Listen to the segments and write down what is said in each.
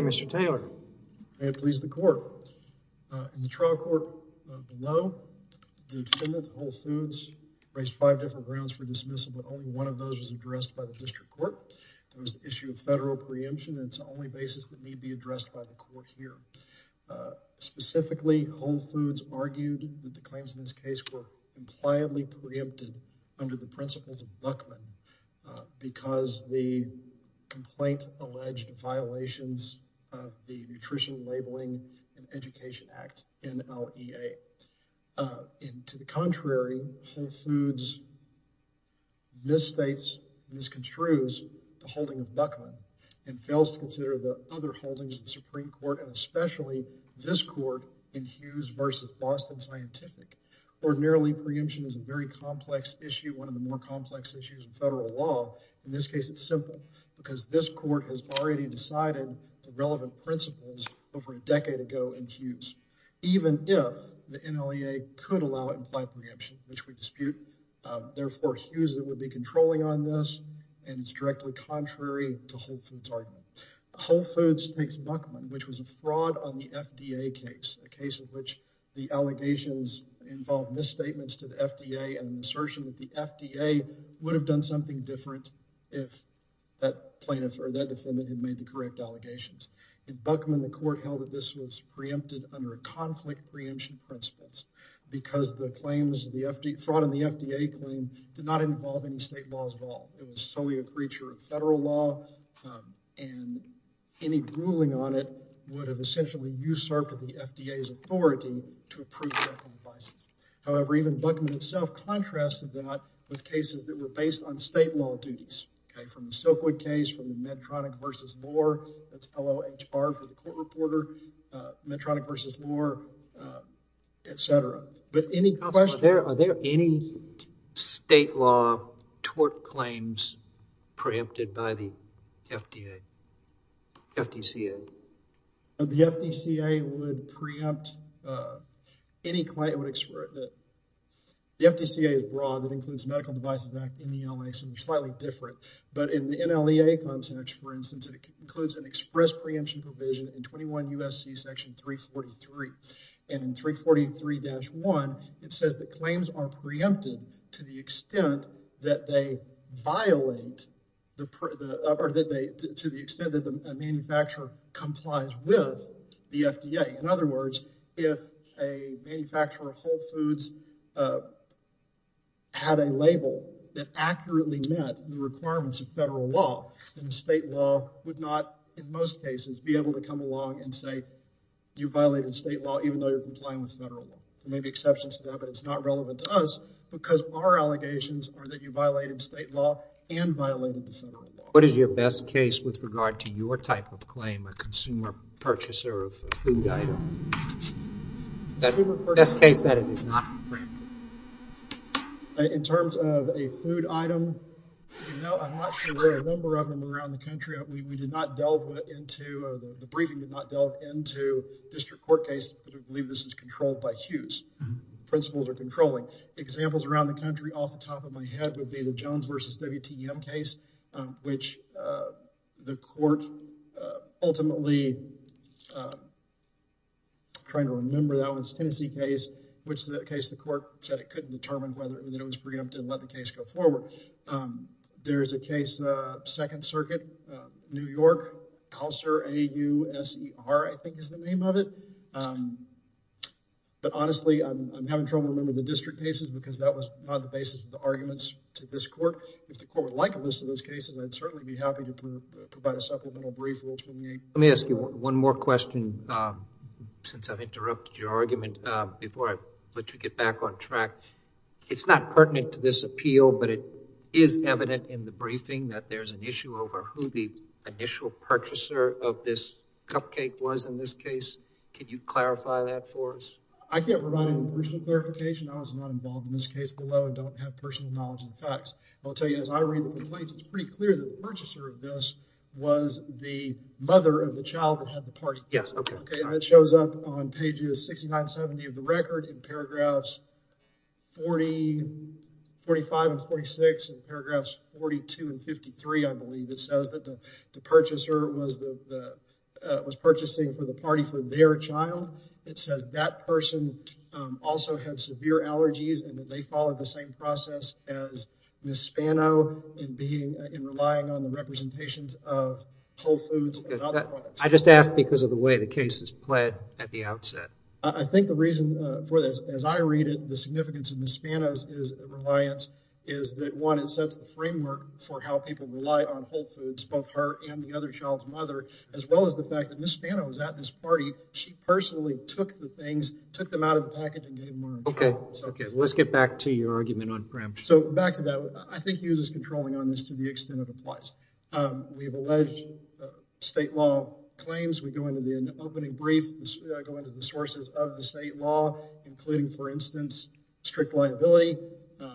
Mr. Taylor, may it please the Court, in the trial court below, the defendant, Whole Foods, raised five different grounds for dismissal, but only one of those was addressed by the District Court. It was the issue of federal preemption, and it's the only basis that need be addressed by the Court here. Specifically, Whole Foods argued that the claims in this case were impliedly preempted under the principles of Buckman because the complaint alleged violations of the Nutrition, Labeling, and Education Act, NLEA. To the contrary, Whole Foods misstates, misconstrues the holding of Buckman and fails to consider the other holdings of the Supreme Court, and especially this court in Hughes v. Boston Scientific. Ordinarily, preemption is a very complex issue, one of the more complex issues in federal law. In this case, it's the relevant principles over a decade ago in Hughes, even if the NLEA could allow implied preemption, which we dispute. Therefore, Hughes would be controlling on this, and it's directly contrary to Whole Foods' argument. Whole Foods takes Buckman, which was a fraud on the FDA case, a case in which the allegations involved misstatements to the FDA and an assertion that the FDA would have done something different if that plaintiff or that defendant had made the correct allegations. In Buckman, the court held that this was preempted under conflict preemption principles because the claims of the FDA, fraud on the FDA claim, did not involve any state laws at all. It was solely a creature of federal law, and any ruling on it would have essentially usurped the FDA's authority to approve Beckman Advising. However, even Buckman itself contrasted that with cases that were based on state law duties, okay, the Silkwood case from Medtronic versus Moore, that's L-O-H-R for the court reporter, Medtronic versus Moore, et cetera. But any questions? Are there any state law tort claims preempted by the FDA, FDCA? The FDCA would preempt any claim. The FDCA is broad. It includes Medical Devices Act and the NLEA, so they're slightly different. But in the NLEA, for instance, it includes an express preemption provision in 21 U.S.C. section 343, and in 343-1, it says that claims are preempted to the extent that they violate the, or to the extent that the manufacturer complies with the FDA. In other words, if a manufacturer of Whole Foods had a label that accurately met the requirements of federal law, then the state law would not, in most cases, be able to come along and say, you violated state law even though you're complying with federal law. There may be exceptions to that, but it's not relevant to us because our allegations are that you violated state law and violated the federal law. What is your best case with regard to your type of claim, a consumer purchaser of a food item? The best case that it is not preempted. In terms of a food item, no, I'm not sure there are a number of them around the country. We did not delve into, the briefing did not delve into district court case, but I believe this is controlled by Hughes. Principles are controlling. Examples around the country, off the top of my head, would be the Jones v. WTM case, which the court ultimately, trying to remember, that was Tennessee case, which the case, the court said it couldn't determine whether it was preempted and let the case go forward. There's a case, 2nd Circuit, New York, Alcer, A-U-S-E-R, I think is the name of it. But honestly, I'm having trouble remembering the district cases because that was not the basis of the arguments to this court. If the court would like a list of those cases, I'd certainly be happy to provide a supplemental brief. Let me ask you one more question, since I've interrupted your argument, before I let you get back on track. It's not pertinent to this appeal, but it is evident in the briefing that there's an issue over who the initial purchaser of this cupcake was in this case. Can you clarify that for us? I can't provide an original clarification. I was not involved in this case below and don't have personal knowledge of the facts. I'll tell you, as I read the complaints, it's pretty clear that the purchaser of this was the mother of the child that had the party. It shows up on pages 69, 70 of the record, in paragraphs 45 and 46, and paragraphs 42 and 53, I believe. It says that the purchaser was purchasing for the party for their child. It says that person also had severe allergies and that they followed the same process as Ms. Spano in relying on the representations of Whole Foods. I just asked because of the way the case is played at the outset. I think the reason for this, as I read it, the significance of Ms. Spano's reliance is that, it sets the framework for how people rely on Whole Foods, both her and the other child's mother, as well as the fact that Ms. Spano was at this party. She personally took the things, took them out of the packet, and gave them to her. Okay, let's get back to your argument on Gramsci. So back to that, I think Hughes is controlling on this to the extent it applies. We have alleged state law claims. We go into the opening brief, go into the sources of the state law, including, for instance, strict liability.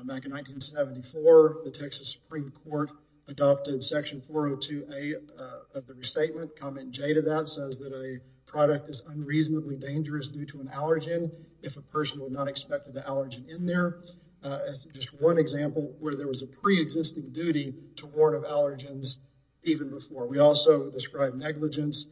Back in 1974, the Texas Supreme Court adopted section 402A of the restatement. Comment J to that says that a product is unreasonably dangerous due to an allergen if a person will not expect the allergen in there. That's just one example where there was a pre-existing duty to warn of allergens even before. We also describe negligence,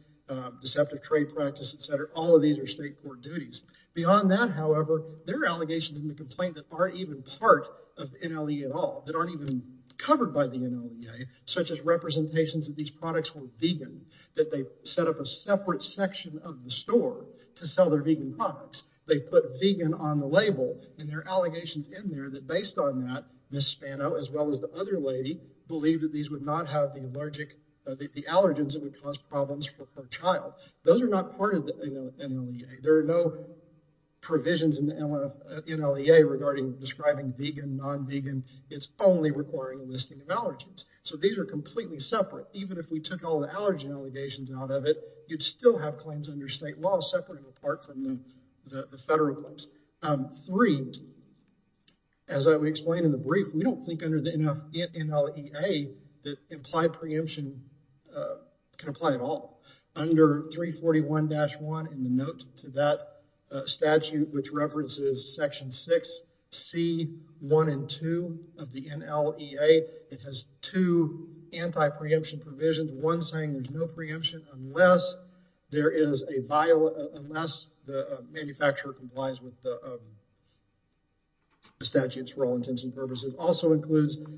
deceptive practice, etc. All of these are state court duties. Beyond that, however, there are allegations in the complaint that aren't even part of NLE at all, that aren't even covered by the NLEA, such as representations of these products were vegan, that they set up a separate section of the store to sell their vegan products. They put vegan on the label, and there are allegations in there that, based on that, Ms. Spano, as well as the other lady, believed that these would not have the Those are not part of the NLEA. There are no provisions in the NLEA regarding describing vegan, non-vegan. It's only requiring a listing of allergens. So, these are completely separate. Even if we took all the allergen allegations out of it, you'd still have claims under state law separated apart from the federal claims. Three, as I would explain in the brief, we don't think NLEA that implied preemption can apply at all. Under 341-1 in the note to that statute, which references section 6c 1 and 2 of the NLEA, it has two anti-preemption provisions. One saying there's no preemption unless the manufacturer complies with the statutes for all intents and purposes.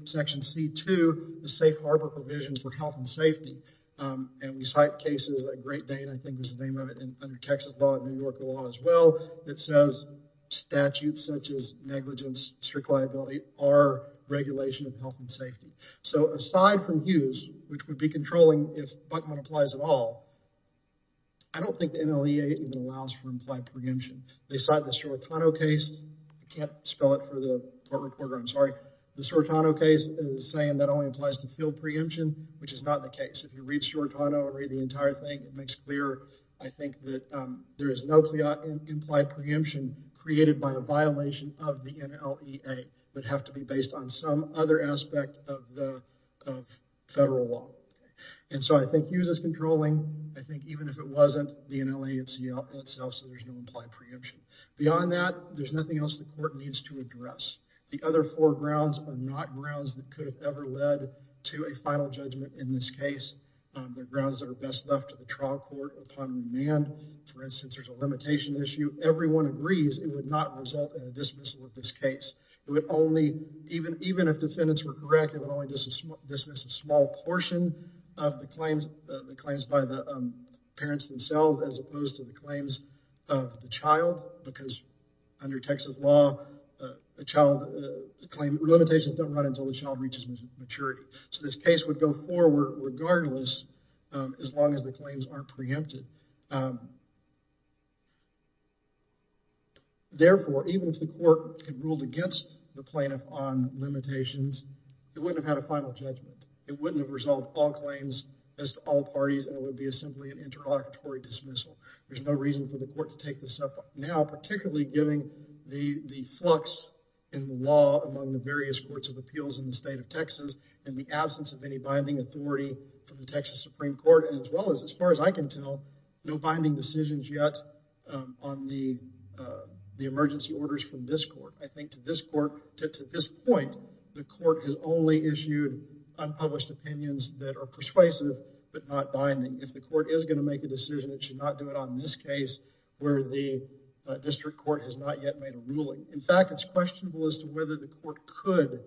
Section C2, the safe harbor provision for health and safety, and we cite cases like Great Dane, I think was the name of it, under Texas law and New York law as well, that says statutes such as negligence, strict liability, are regulation of health and safety. So, aside from Hughes, which would be controlling if Buckman applies at all, I don't think the NLEA allows for implied preemption. They cite the Sortano case. I can't spell it for the court I'm sorry. The Sortano case is saying that only applies to field preemption, which is not the case. If you read Sortano or read the entire thing, it makes clear, I think, that there is no implied preemption created by a violation of the NLEA, but have to be based on some other aspect of the federal law. And so, I think Hughes is controlling. I think even if it wasn't the NLEA itself, there's no implied preemption. Beyond that, there's nothing else the court needs to address. The other four grounds are not grounds that could have ever led to a final judgment in this case. They're grounds that are best left to the trial court upon demand. For instance, there's a limitation issue. Everyone agrees it would not result in a dismissal of this case. It would only, even if defendants were correct, it would only dismiss a small portion of the claims by the parents themselves, as opposed to the claims of the child, because under Texas law, limitations don't run until the child reaches maturity. So, this case would go forward regardless, as long as the claims aren't preempted. Therefore, even if the court had ruled against the plaintiff on limitations, it wouldn't have had a final judgment. It wouldn't have resolved all claims as to all parties. That would be simply an interlocutory dismissal. There's no reason for the court to take this up now, particularly given the flux in the law among the various courts of appeals in the state of Texas, and the absence of any binding authority from the Texas Supreme Court, as well as, as far as I can tell, no binding decisions yet on the emergency orders from this court. I think to this point, the court has only issued unpublished opinions that are persuasive, but not binding. If the district court has not yet made a ruling. In fact, it's questionable as to whether the court could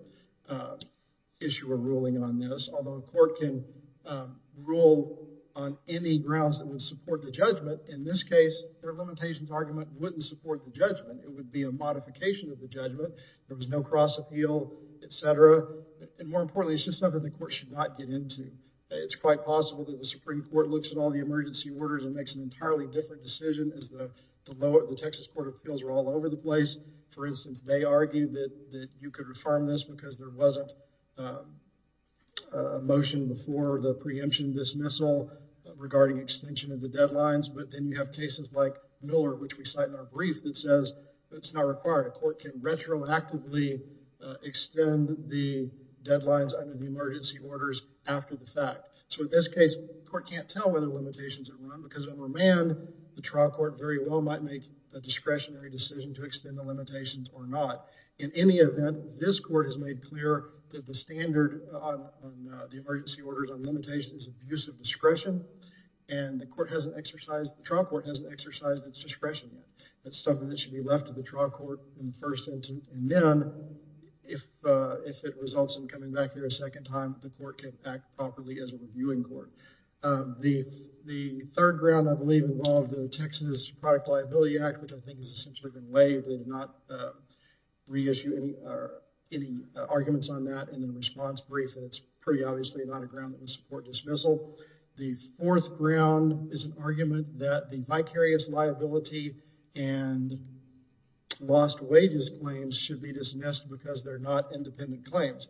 issue a ruling on this, although a court can rule on any grounds that would support the judgment. In this case, their limitations argument wouldn't support the judgment. It would be a modification of the judgment. There was no cross appeal, etc. And more importantly, it's just something the court should not get into. It's quite possible that the Supreme Court looks at all the emergency orders and makes an entirely different decision as the Texas Court of Appeals are all over the place. For instance, they argued that you could reform this because there wasn't a motion before the preemption dismissal regarding extension of the deadlines. But then you have cases like Miller, which we cite in our brief, that says it's not required. A court can retroactively extend the deadlines under the emergency orders after the fact. So in this case, the court can't tell whether because of a remand, the trial court very well might make a discretionary decision to extend the limitations or not. In any event, this court has made clear that the standard on the emergency orders on limitations of use of discretion and the court hasn't exercised, the trial court hasn't exercised its discretion. That's something that should be left to the trial court in the first instance. And then if it results in coming back there a second time, the court can act properly as a reviewing court. The third ground, I believe, involved the Texas Product Liability Act, which I think has essentially been waived. They did not reissue any arguments on that in the response brief, and it's pretty obviously not a ground that would support dismissal. The fourth ground is an argument that the vicarious liability and lost wages claims should be dismissed because they're not independent claims.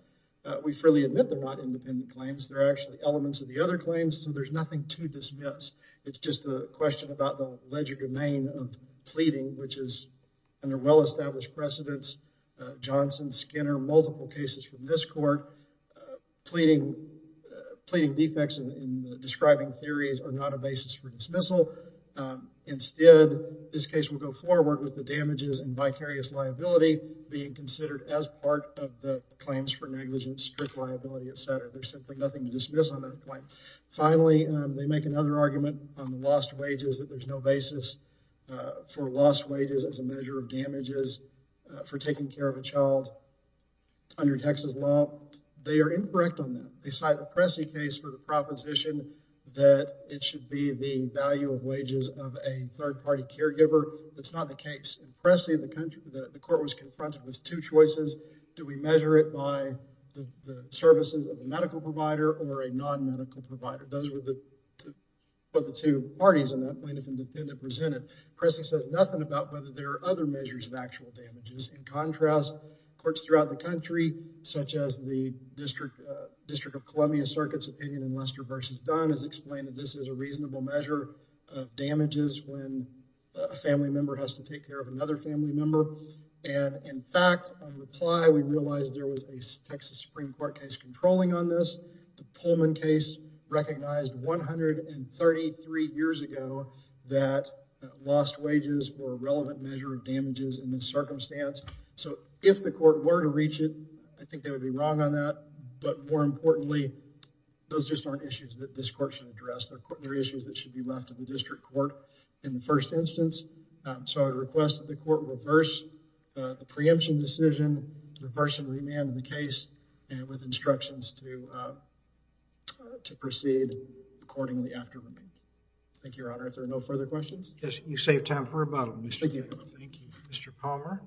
We freely admit they're not independent claims. They're actually elements of the other claims, so there's nothing to dismiss. It's just a question about the alleged domain of pleading, which is under well-established precedents. Johnson, Skinner, multiple cases from this court, pleading defects in describing theories are not a basis for dismissal. Instead, this case will go forward with the damages and vicarious liability being considered as part of the claims for negligence, strict liability, etc. There's simply nothing to dismiss on that point. Finally, they make another argument on the lost wages that there's no basis for lost wages as a measure of damages for taking care of a child under Texas law. They are incorrect on that. They cite the Pressey case for the proposition that it should be the value of wages of a third-party caregiver. That's not the case. In Pressey, the court was confronted with two choices. Do we measure it by the services of the medical provider or a non-medical provider? Those were the two parties in that plaintiff and defendant presented. Pressey says nothing about whether there are other measures of actual damages. In contrast, courts throughout the country, such as the District of Columbia Circuit's opinion in Lester v. Dunn, has explained that this is a reasonable measure of damages when a family member has to take care of another family member. In fact, on reply, we realized there was a Texas Supreme Court case controlling on this. The Pullman case recognized 133 years ago that lost wages were a relevant measure of damages in this circumstance. If the court were to reach it, I think they would be wrong on that. More importantly, those just aren't issues that this instance. So, I request that the court reverse the preemption decision, the version of the case, and with instructions to proceed accordingly after. Thank you, Your Honor. If there are no further questions. Yes, you saved time. Thank you. Mr. Palmer.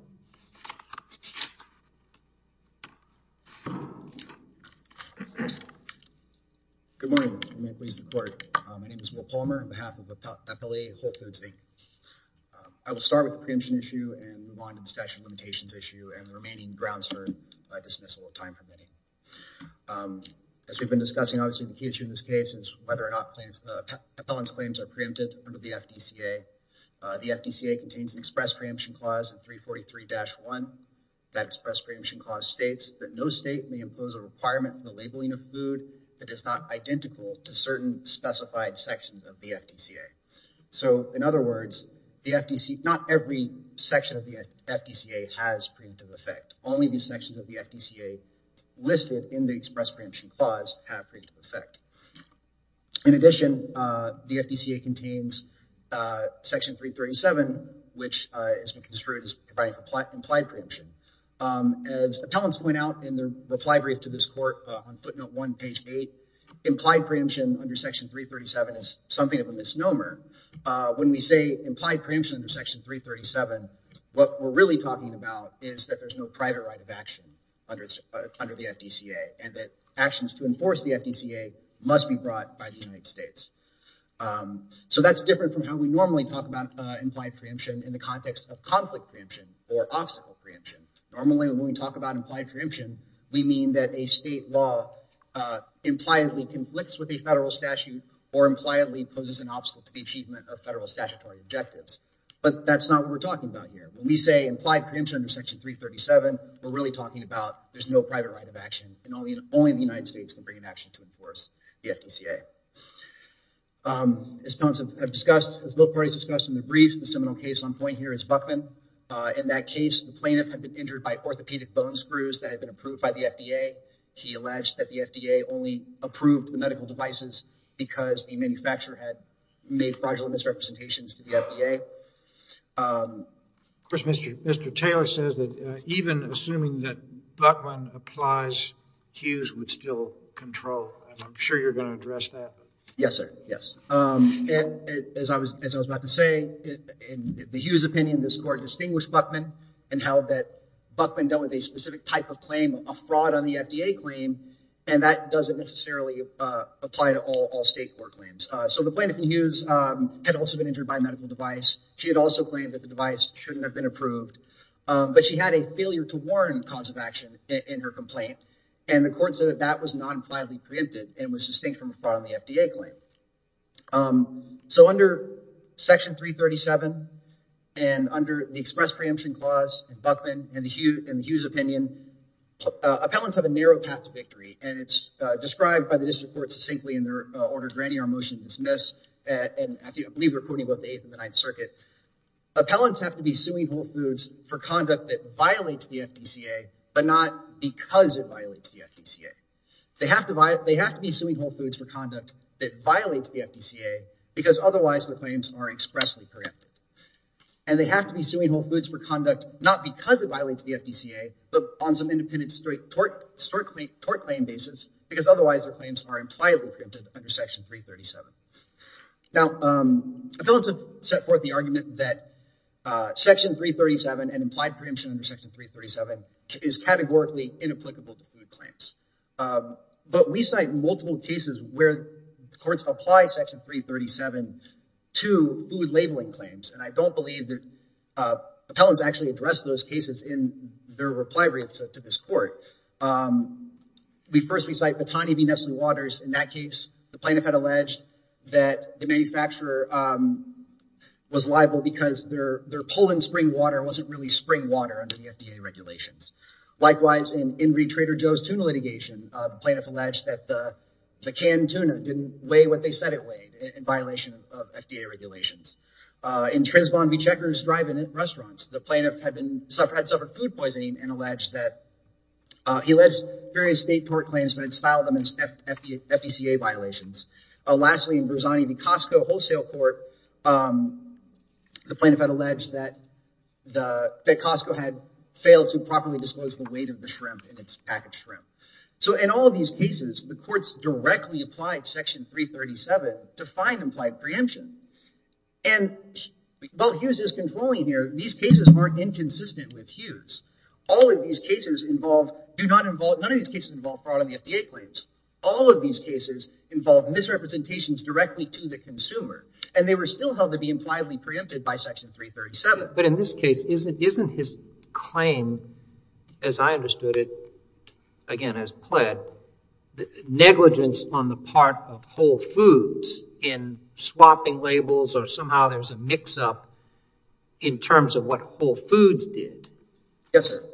Good morning, Your Honor. My name is Will Palmer on behalf of the Appellee Whole Foods Bank. I will start with the preemption issue and move on to the statute of limitations issue and the remaining grounds for dismissal of time permitting. As we've been discussing, obviously the key issue in this case is whether or not the appellant's claims are preempted under the FDCA. The FDCA contains an express preemption clause in 343-1. That express preemption clause states that no state may impose a requirement for the labeling of food that is not identical to certain specified sections of the FDCA. So, in other words, not every section of the FDCA has preemptive effect. Only the sections of the FDCA listed in the express preemption clause have preemptive effect. In addition, the FDCA contains Section 337, which has been construed as providing for implied preemption. As appellants point out in their reply brief to this court on footnote 1, page 8, implied preemption under Section 337 is something of a misnomer. When we say implied preemption under Section 337, what we're really talking about is that there's no private right of action under the FDCA and that actions to enforce the FDCA must be brought by the United States. So, that's different from how we normally talk about implied preemption in the context of conflict preemption or obstacle preemption. Normally, when we talk about implied preemption, we mean that a state law impliedly conflicts with a federal statute or impliedly poses an obstacle to the achievement of federal statutory objectives. But that's not what we're talking about here. We say implied preemption under Section 337, we're really talking about there's no private right of action and only the United States can bring an action to enforce the FDCA. As appellants have discussed, as both parties discussed in their briefs, the seminal case on point here is Buckman. In that case, the plaintiff had been injured by orthopedic bone screws that had been approved by the FDA. He alleged that the FDA only approved the medical devices because the Mr. Taylor says that even assuming that Buckman applies, Hughes would still control. I'm sure you're going to address that. Yes, sir. Yes. As I was about to say, in the Hughes opinion, this court distinguished Buckman and held that Buckman dealt with a specific type of claim, a fraud on the FDA claim, and that doesn't necessarily apply to all state court claims. So, the plaintiff in Hughes had also been injured by a medical device. She had also claimed that shouldn't have been approved, but she had a failure to warn cause of action in her complaint, and the court said that that was not impliedly preempted and was distinct from a fraud on the FDA claim. So, under Section 337 and under the express preemption clause in Buckman and the Hughes opinion, appellants have a narrow path to victory, and it's described by the district court succinctly in their order granting our motion to dismiss, and I believe we're quoting both the whole foods for conduct that violates the FDCA, but not because it violates the FDCA. They have to be suing whole foods for conduct that violates the FDCA because otherwise the claims are expressly preempted, and they have to be suing whole foods for conduct, not because it violates the FDCA, but on some independent historic claim basis, because otherwise their claims are impliedly preempted under Section 337. Now, appellants have set forth the argument that Section 337 and implied preemption under Section 337 is categorically inapplicable to food claims, but we cite multiple cases where the courts apply Section 337 to food labeling claims, and I don't believe that appellants actually address those cases in their reply to this court. We first recite Batani v. Nestle Waters in that case. The plaintiff had alleged that the manufacturer was liable because their pull in spring water wasn't really spring water under the FDA regulations. Likewise, in Ingrid Trader Joe's tuna litigation, the plaintiff alleged that the canned tuna didn't weigh what they said it weighed in violation of FDA regulations. In Trisbon v. Checkers Drive and Restaurants, the plaintiff had suffered food poisoning and alleged that he alleged various state court claims, but had styled them as FDCA violations. Lastly, in Berzani v. Costco Wholesale Court, the plaintiff had alleged that Costco had failed to properly disclose the weight of the shrimp in its packaged shrimp. So in all of these cases, the courts directly applied Section 337 to find implied preemption, and while Hughes is controlling here, these cases aren't inconsistent with Hughes. All of these cases involve, do not involve, none of these cases involve fraud on the FDA claims. All of these cases involve misrepresentations directly to the consumer, and they were still held to be impliedly preempted by Section 337. But in this case, isn't his claim, as I understood it, again as pled, negligence on the part of Whole Foods in swapping labels, or somehow there's a Yes, sir.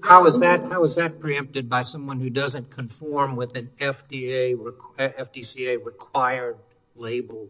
How is that preempted by someone who doesn't conform with an FDCA-required label?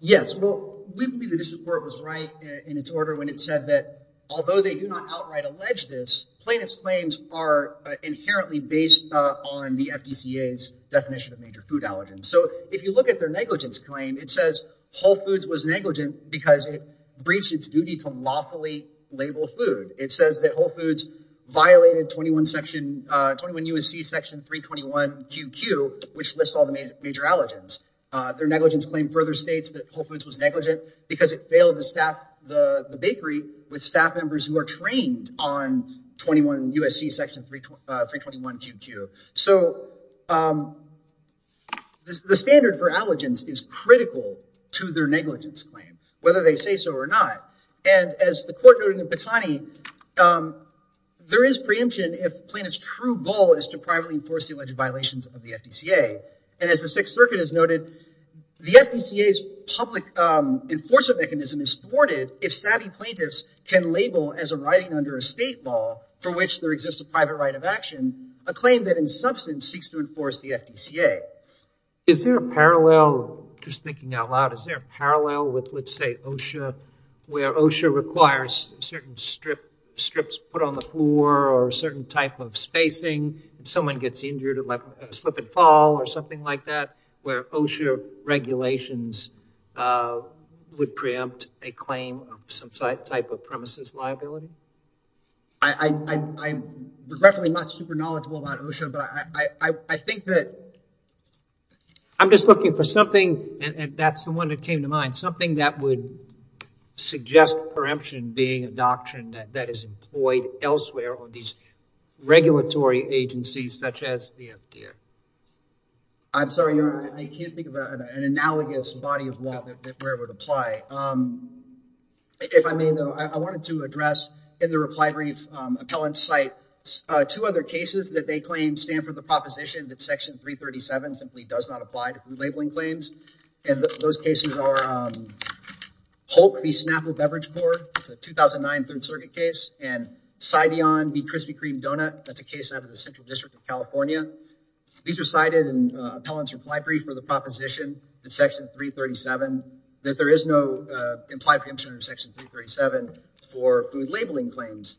Yes, well, we believe that this report was right in its order when it said that although they do not outright allege this, plaintiff's claims are inherently based on the FDCA's definition of major food allergens. So if you look at their negligence claim, it says Whole Foods was negligent because it breached its duty to lawfully label food. It says that Whole Foods violated 21 section, 21 U.S.C. Section 321 QQ, which lists all the major allergens. Their negligence claim further states that Whole Foods was negligent because it failed to staff the bakery with staff members who are trained on 21 U.S.C. Section 321 QQ. So the standard for to their negligence claim, whether they say so or not. And as the court noted in Petani, there is preemption if plaintiff's true goal is to privately enforce the alleged violations of the FDCA. And as the Sixth Circuit has noted, the FDCA's public enforcement mechanism is thwarted if savvy plaintiffs can label as arriving under a state law for which there exists a private right of action, a claim that in substance seeks to enforce the FDCA. Is there a parallel, just thinking out loud, is there a parallel with, let's say, OSHA, where OSHA requires certain strips put on the floor or a certain type of spacing if someone gets injured, like a slip and fall or something like that, where OSHA regulations would preempt a claim of some type of premises liability? I'm regretfully not super knowledgeable about OSHA, but I think that I'm just looking for something, and that's the one that came to mind, something that would suggest preemption being a doctrine that is employed elsewhere on these regulatory agencies such as the FDCA. I'm sorry, Your Honor, I can't think of an analogous body of law that where it would apply. If I may, though, I wanted to address in the reply brief appellant's site two other cases that they claim stand for the proposition that Section 337 simply does not apply to labeling claims, and those cases are Holt v. Snapper Beverage Board, it's a 2009 Third Circuit case, and Cideon v. Krispy Kreme Donut, that's a case out of the Central District of California. These are cited in appellant's reply brief for the proposition that Section 337, that there is no implied preemption under Section 337 for food labeling claims.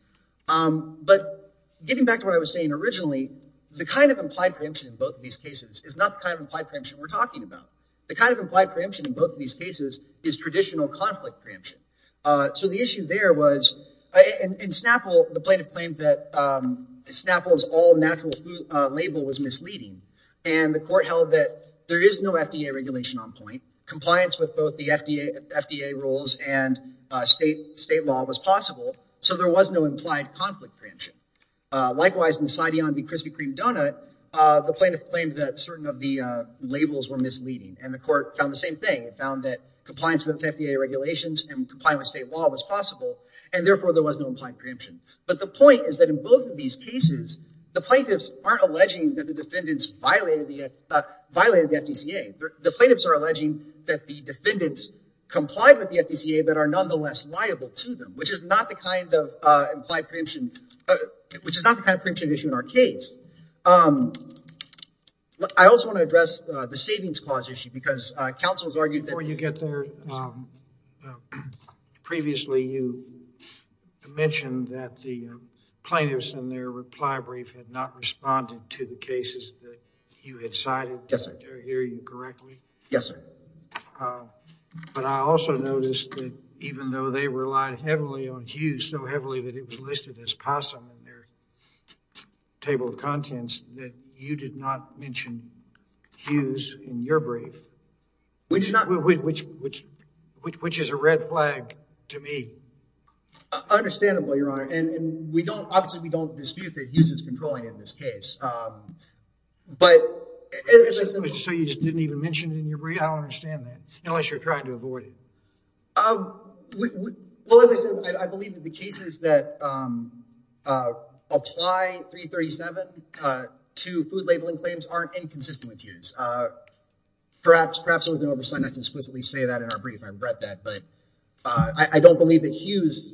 But getting back to what I was saying originally, the kind of implied preemption in both of these cases is not the kind of implied preemption we're talking about. The kind of implied preemption in both of these cases is traditional conflict preemption. So the issue there was, in Snapple, the plaintiff claimed that Snapple's all natural food label was misleading, and the court held that there is no FDA regulation on point. Compliance with both the FDA rules and state law was possible, so there was no implied conflict preemption. Likewise, in Cideon v. Krispy Kreme Donut, the plaintiff claimed that certain of the labels were misleading, and the court found the same thing. It found that compliance with FDA regulations and complying with state law was possible, and therefore there was no implied preemption. But the point is that in both of these cases, the plaintiffs aren't alleging that the defendants violated the FDCA. The plaintiffs are alleging that the defendants complied with the FDCA, but are nonetheless liable to them, which is not the kind of implied preemption, which is not the kind of preemption issue in our case. I also want to address the savings clause issue, because counsel has argued that— Yes, sir. Previously, you mentioned that the plaintiffs in their reply brief had not responded to the cases that you had cited. Yes, sir. Did I hear you correctly? Yes, sir. But I also noticed that even though they relied heavily on Hughes so heavily that it was listed as possum in their table of contents, that you did not mention Hughes in your brief. Which is a red flag to me. Understandable, your honor, and we don't, obviously we don't dispute that Hughes is controlling in this case, but— So you just didn't even mention it in your brief? I don't understand that, unless you're trying to avoid it. Well, I believe that the cases that apply 337 to food labeling claims aren't inconsistent with Hughes. Perhaps it was an oversight not to exquisitely say that in our brief, I regret that, but I don't believe that Hughes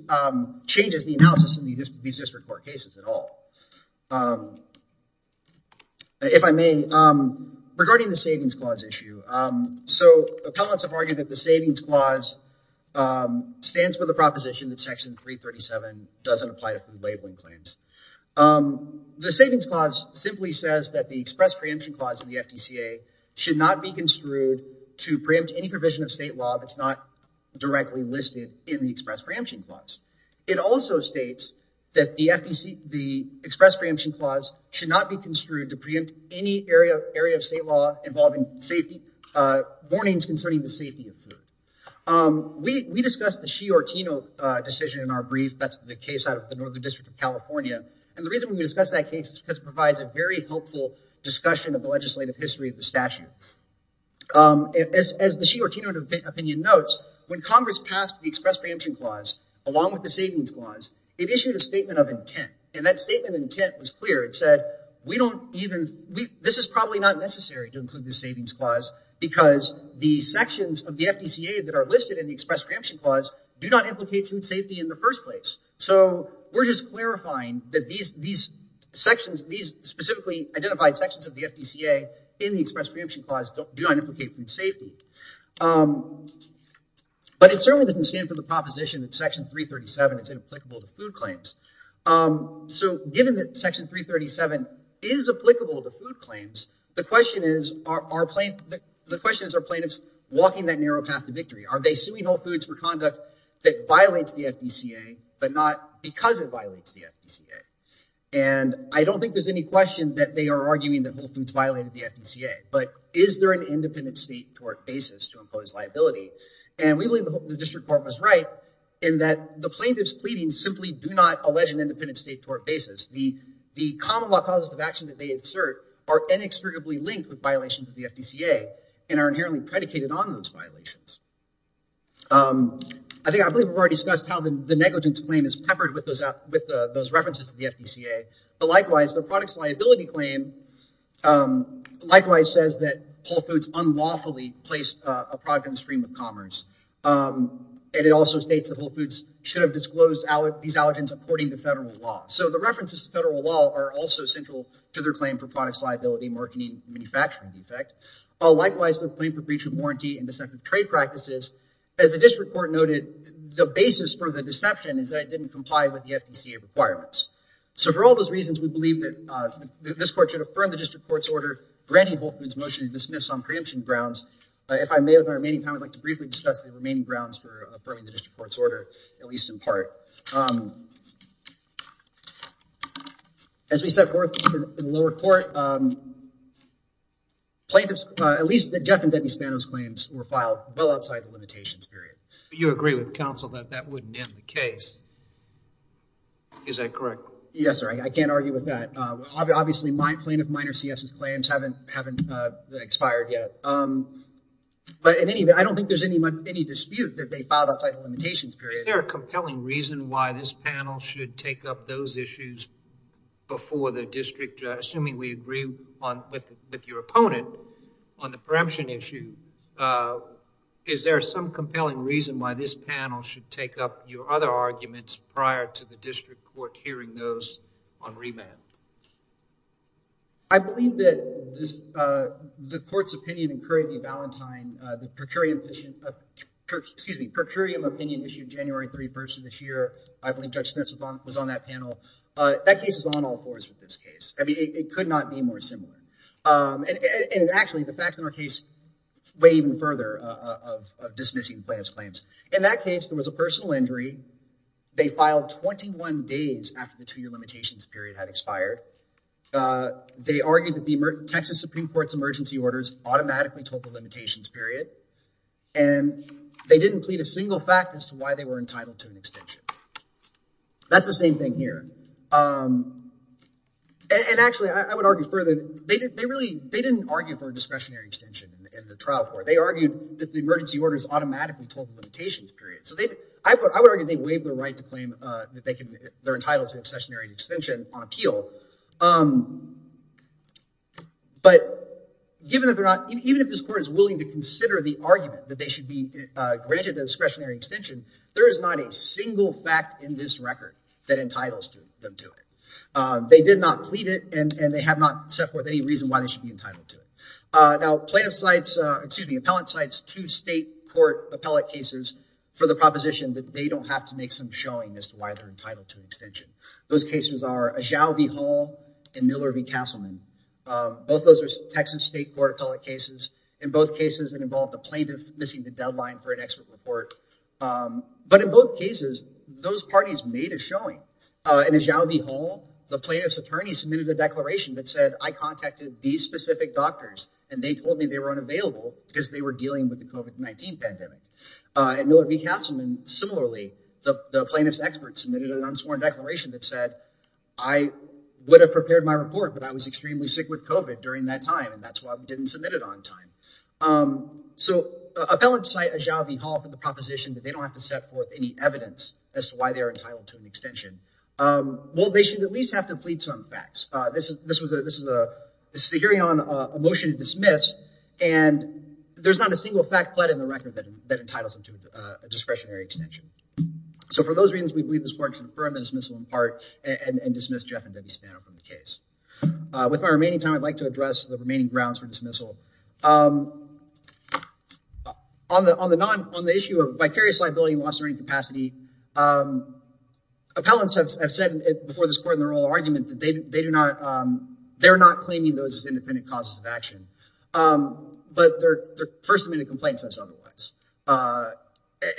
changes the analysis in these district court cases at all. If I may, regarding the savings clause issue, so appellants have argued that the savings clause stands for the proposition that section 337 doesn't apply to food labeling claims. The savings clause simply says that the express preemption clause of the FDCA should not be construed to preempt any provision of state law that's not directly listed in the express preemption clause. It also states that the express preemption clause should not be construed to preempt any area of state law involving safety warnings concerning the safety of food. We discussed the Xi Ortino decision in our brief, that's the case out of Northern District of California. And the reason we discussed that case is because it provides a very helpful discussion of the legislative history of the statute. As the Xi Ortino opinion notes, when Congress passed the express preemption clause, along with the savings clause, it issued a statement of intent. And that statement of intent was clear. It said, we don't even, this is probably not necessary to include the savings clause because the sections of the FDCA that are listed in the express preemption clause do not implicate food safety in the first place. So we're just clarifying that these sections, these specifically identified sections of the FDCA in the express preemption clause do not implicate food safety. But it certainly doesn't stand for the proposition that section 337 is inapplicable to food claims. So given that section 337 is applicable to food claims, the question is, are plaintiffs walking that narrow path to victory? Are they suing Whole Foods for conduct that violates the FDCA, but not because it violates the FDCA? And I don't think there's any question that they are arguing that Whole Foods violated the FDCA, but is there an independent state tort basis to impose liability? And we believe the district court was right in that the plaintiffs pleading simply do not allege an independent state tort basis. The common law causes of action that they insert are inextricably linked with violations of the FDCA and are I believe we've already discussed how the negligence claim is peppered with those references to the FDCA. But likewise, the products liability claim likewise says that Whole Foods unlawfully placed a product on the stream of commerce. And it also states that Whole Foods should have disclosed these allergens according to federal law. So the references to federal law are also central to their claim for products liability marketing manufacturing defect. But likewise, the claim for breach of warranty and deceptive trade practices, as the district court noted, the basis for the deception is that it didn't comply with the FDCA requirements. So for all those reasons, we believe that this court should affirm the district court's order granting Whole Foods motion to dismiss on preemption grounds. If I may, with our remaining time, I'd like to briefly discuss the remaining grounds for affirming the district court's order, at least in part. As we set forth in the lower court, plaintiffs, at least the Jeff and Debbie Spano's claims were filed well outside the limitations period. But you agree with counsel that that wouldn't end the case. Is that correct? Yes, sir. I can't argue with that. Obviously, plaintiff Minor C.S.'s claims haven't expired yet. But in any event, I don't think there's any dispute that they filed outside the limitations period. Is there a compelling reason why this panel should take up those issues before the district, assuming we agree with your opponent on the preemption issue? Is there some compelling reason why this panel should take up your other arguments prior to the district court hearing those on remand? I believe that the court's opinion in Curry v. Valentine, the per curiam petition, excuse me, per curiam opinion issued January 31st of this year. I believe Judge Spence was on that panel. That case is on all fours with this case. I mean, it could not be more similar. And actually, the facts in our case weigh even further of dismissing plaintiff's claims. In that case, there was a personal injury. They filed 21 days after the two-year limitations period had expired. They argued that the Texas Supreme Court's emergency orders automatically told the limitations period. And they didn't plead a single fact as to why they were entitled to an extension. That's the same thing here. And actually, I would argue further. They didn't argue for a discretionary extension in the trial court. They argued that the emergency orders automatically told the limitations period. So I would argue they waive the right to claim that they're entitled to a discretionary extension on appeal. But even if this court is willing to consider the argument that they should be granted a discretionary extension, there is not a single fact in this record that entitles them to it. They did not plead it, and they have not set forth any reason why they should be entitled to it. Now, plaintiff cites, excuse me, appellant cites two state court appellate cases for the proposition that they don't have to make some showing as to why they're entitled to an extension. Those cases are Ajao v. Hall and Miller v. Castleman. Both those are Texas state court appellate cases. In both cases, it involved a plaintiff missing the deadline for an expert report. But in both cases, those parties made a showing. In Ajao v. Hall, the plaintiff's specific doctors, and they told me they were unavailable because they were dealing with the COVID-19 pandemic. At Miller v. Castleman, similarly, the plaintiff's experts submitted an unsworn declaration that said, I would have prepared my report, but I was extremely sick with COVID during that time, and that's why we didn't submit it on time. So appellants cite Ajao v. Hall for the proposition that they don't have to set forth any evidence as to why they are entitled to an extension. Well, they should at least have to plead some facts. This is a hearing on a motion to dismiss, and there's not a single fact pled in the record that entitles them to a discretionary extension. So for those reasons, we believe this court should affirm the dismissal in part and dismiss Jeff and Debbie Spano from the case. With my remaining time, I'd like to address the remaining grounds for dismissal. On the issue of vicarious liability and loss of earning capacity, appellants have said before this court in their oral argument that they do not, they're not claiming those as independent causes of action, but their first amendment complaint says otherwise.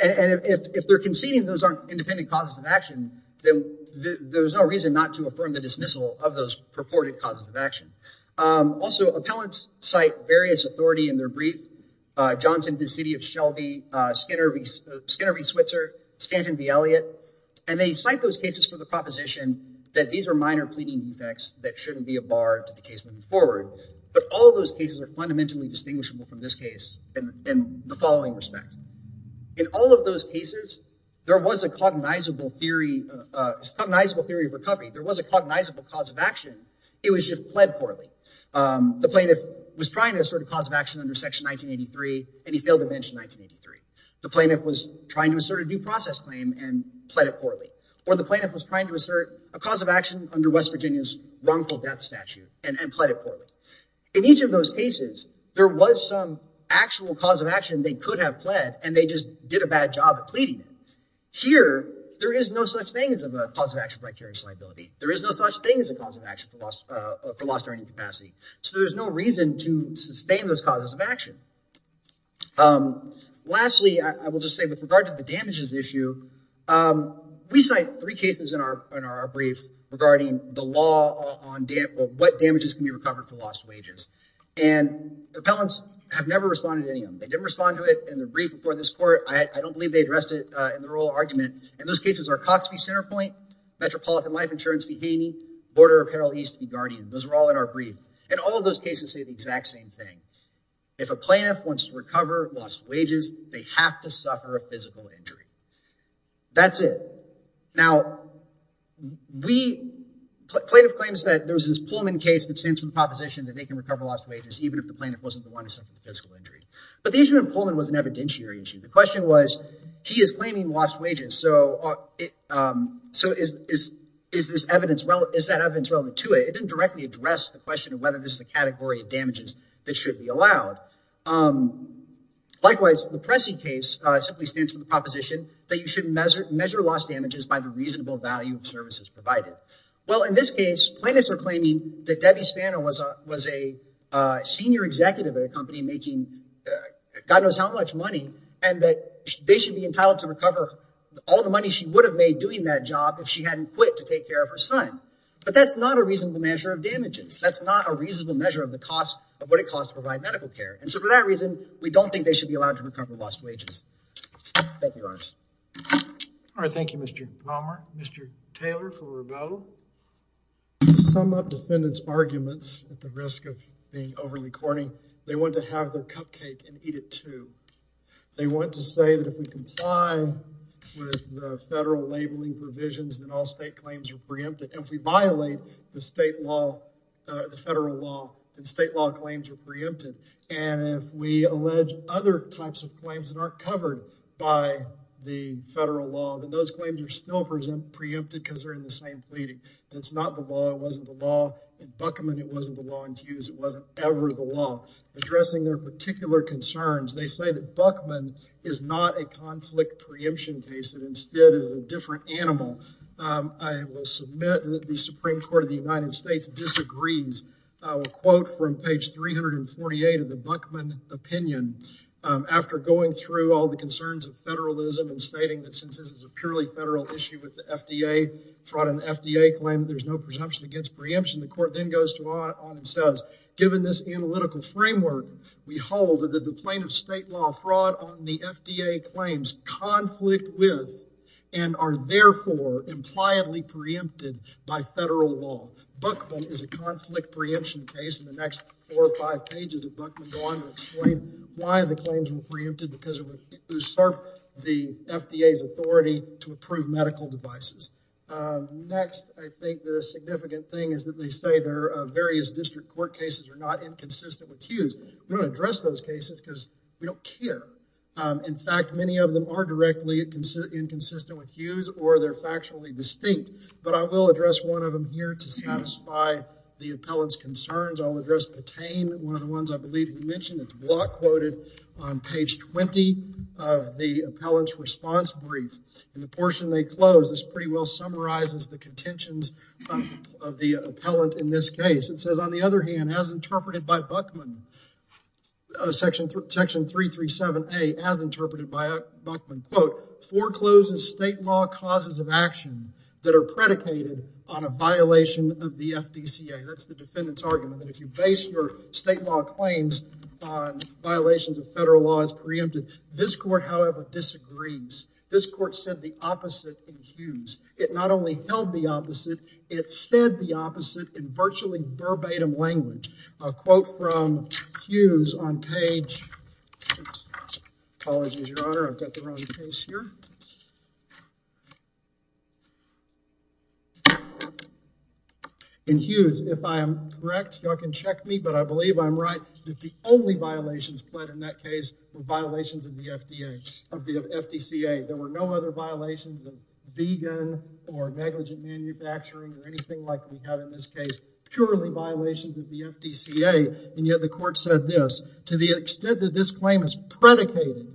And if they're conceding those aren't independent causes of action, then there's no reason not to affirm the dismissal of those purported causes of action. Also, appellants cite various authority in their brief, Johnson v. City of Shelby, Skinner v. Switzer, Stanton v. Elliott, and they cite those cases for the proposition that these are minor pleading defects that shouldn't be a bar to the case moving forward. But all of those cases are fundamentally distinguishable from this case in the following respect. In all of those cases, there was a cognizable theory of recovery. There was a cognizable cause of action. It was just pled poorly. The plaintiff was trying to assert a due process claim in 1983, and he failed to mention 1983. The plaintiff was trying to assert a due process claim and pled it poorly. Or the plaintiff was trying to assert a cause of action under West Virginia's wrongful death statute and pled it poorly. In each of those cases, there was some actual cause of action they could have pled, and they just did a bad job of pleading it. Here, there is no such thing as a cause of action of vicarious liability. There is no such thing as a cause of action for lost earning capacity. So there's no reason to sustain those causes of action. Lastly, I will just say with regard to the damages issue, we cite three cases in our brief regarding the law on what damages can be recovered for lost wages. And appellants have never responded to any of them. They didn't respond to it in the brief before this court. I don't believe they addressed it in the oral argument. And those cases are Cox v. Centerpoint, Metropolitan Life Insurance v. Haney, Border Apparel East v. Guardian. Those are all in our brief. If a plaintiff wants to recover lost wages, they have to suffer a physical injury. That's it. Now, plaintiff claims that there was this Pullman case that stands for the proposition that they can recover lost wages even if the plaintiff wasn't the one who suffered the physical injury. But the issue in Pullman was an evidentiary issue. The question was, he is claiming lost wages. So is that evidence relevant to it? It didn't directly address the question of whether this is a category of damages that should be allowed. Likewise, the Pressy case simply stands for the proposition that you should measure lost damages by the reasonable value of services provided. Well, in this case, plaintiffs are claiming that Debbie Spanner was a senior executive at a company making God knows how much money and that they should be entitled to recover all the money she would have made doing that job if she hadn't quit to take care of her son. But that's not a reasonable measure of damages. That's not a reasonable measure of the cost of what it costs to provide medical care. And so for that reason, we don't think they should be allowed to recover lost wages. Thank you, Your Honor. All right. Thank you, Mr. Palmer. Mr. Taylor for Rabeau. To sum up defendants' arguments at the risk of being overly corny, they want to have their cupcake and eat it too. They want to say that if we comply with the federal labeling provisions, then all state claims are preempted. And if we violate the state law, the federal law, then state law claims are preempted. And if we allege other types of claims that aren't covered by the federal law, then those claims are still present preempted because they're in the same pleading. That's not the law. It wasn't the law in Buckman. It wasn't the law in Hughes. It wasn't ever the law. Addressing their particular concerns, they say that Buckman is not a conflict preemption case. It instead is a different animal. I will submit that the Supreme Court of the United States disagrees. I will quote from page 348 of the Buckman opinion. After going through all the concerns of federalism and stating that since this is a purely federal issue with the FDA, fraud on the FDA claim, there's no presumption against preemption, the court then goes on and says, given this analytical framework, we hold that the plaintiff's state law fraud on the FDA claims conflict with and are therefore impliedly preempted by federal law. Buckman is a conflict preemption case. In the next four or five pages of Buckman, go on and explain why the claims were preempted because it would usurp the FDA's authority to approve medical devices. Next, I think the significant thing is that they say their various district court cases are not many of them are directly inconsistent with Hughes or they're factually distinct, but I will address one of them here to satisfy the appellant's concerns. I'll address Patain, one of the ones I believe you mentioned. It's block quoted on page 20 of the appellant's response brief. In the portion they close, this pretty well summarizes the contentions of the appellant in this case. It says, on the other hand, as interpreted by Buckman, section 337A, as interpreted by Buckman, quote, forecloses state law causes of action that are predicated on a violation of the FDCA. That's the defendant's argument that if you base your state law claims on violations of federal law, it's preempted. This court, however, disagrees. This court said the opposite in Hughes. It not only held the opposite, it said the opposite in virtually verbatim language. A quote from Hughes on page, apologies, your honor, I've got the wrong case here. In Hughes, if I am correct, y'all can check me, but I believe I'm right, that the only violations pled in that case were violations of the FDA, of the FDCA. There were other violations of vegan, or negligent manufacturing, or anything like we have in this case. Purely violations of the FDCA, and yet the court said this, to the extent that this claim is predicated,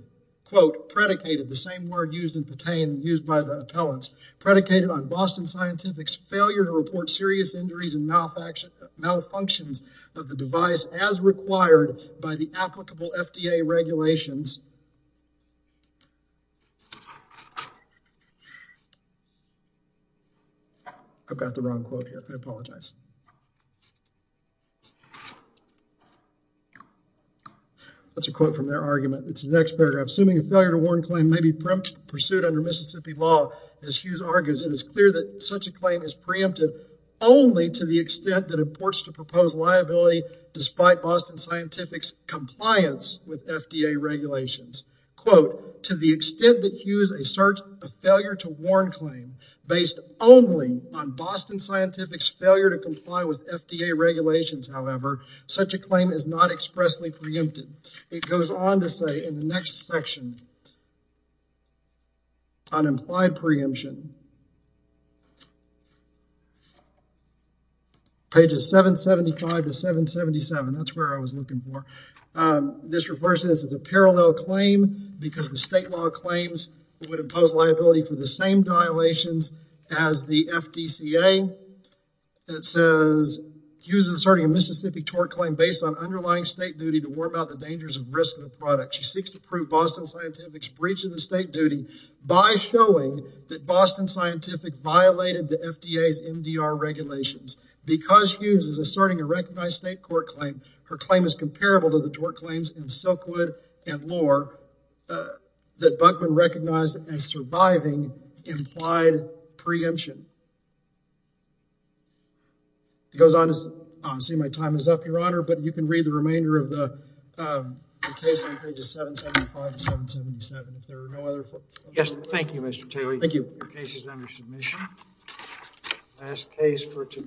quote, predicated, the same word used in pertain, used by the appellants, predicated on Boston Scientific's failure to report serious injuries and malfunctions of the device as required by the applicable FDA regulations. I've got the wrong quote here, I apologize. That's a quote from their argument. It's the next paragraph. Assuming a failure to warn claim may be pursued under Mississippi law, as Hughes argues, it is clear that such a claim is preempted only to the extent that it purports to propose liability despite Boston Scientific's compliance with FDA regulations. Quote, to the extent that Hughes asserts a failure to warn claim based only on Boston Scientific's failure to comply with FDA regulations, however, such a claim is not expressly preempted. It goes on to say in the next section, on implied preemption, pages 775 to 777, that's where I was looking for, this refers to a parallel claim because the state law claims would impose liability for the same violations as the FDCA. It says, Hughes is asserting a Mississippi tort claim based on underlying state duty to warm out the dangers and risks of the product. She seeks to prove Boston Scientific's breach of the state duty by showing that Boston Scientific violated the FDA's MDR regulations. Because Hughes is asserting a recognized state court claim, her claim is comparable to the tort claims in Silkwood and Lohr that Buckman recognized as surviving implied preemption. It goes on to say, my time is up, your honor, but you can read the remainder of the case on pages 775 to 777. If there are no other... Yes, thank you, Mr. Taylor. Your case is under submission. Last case for today.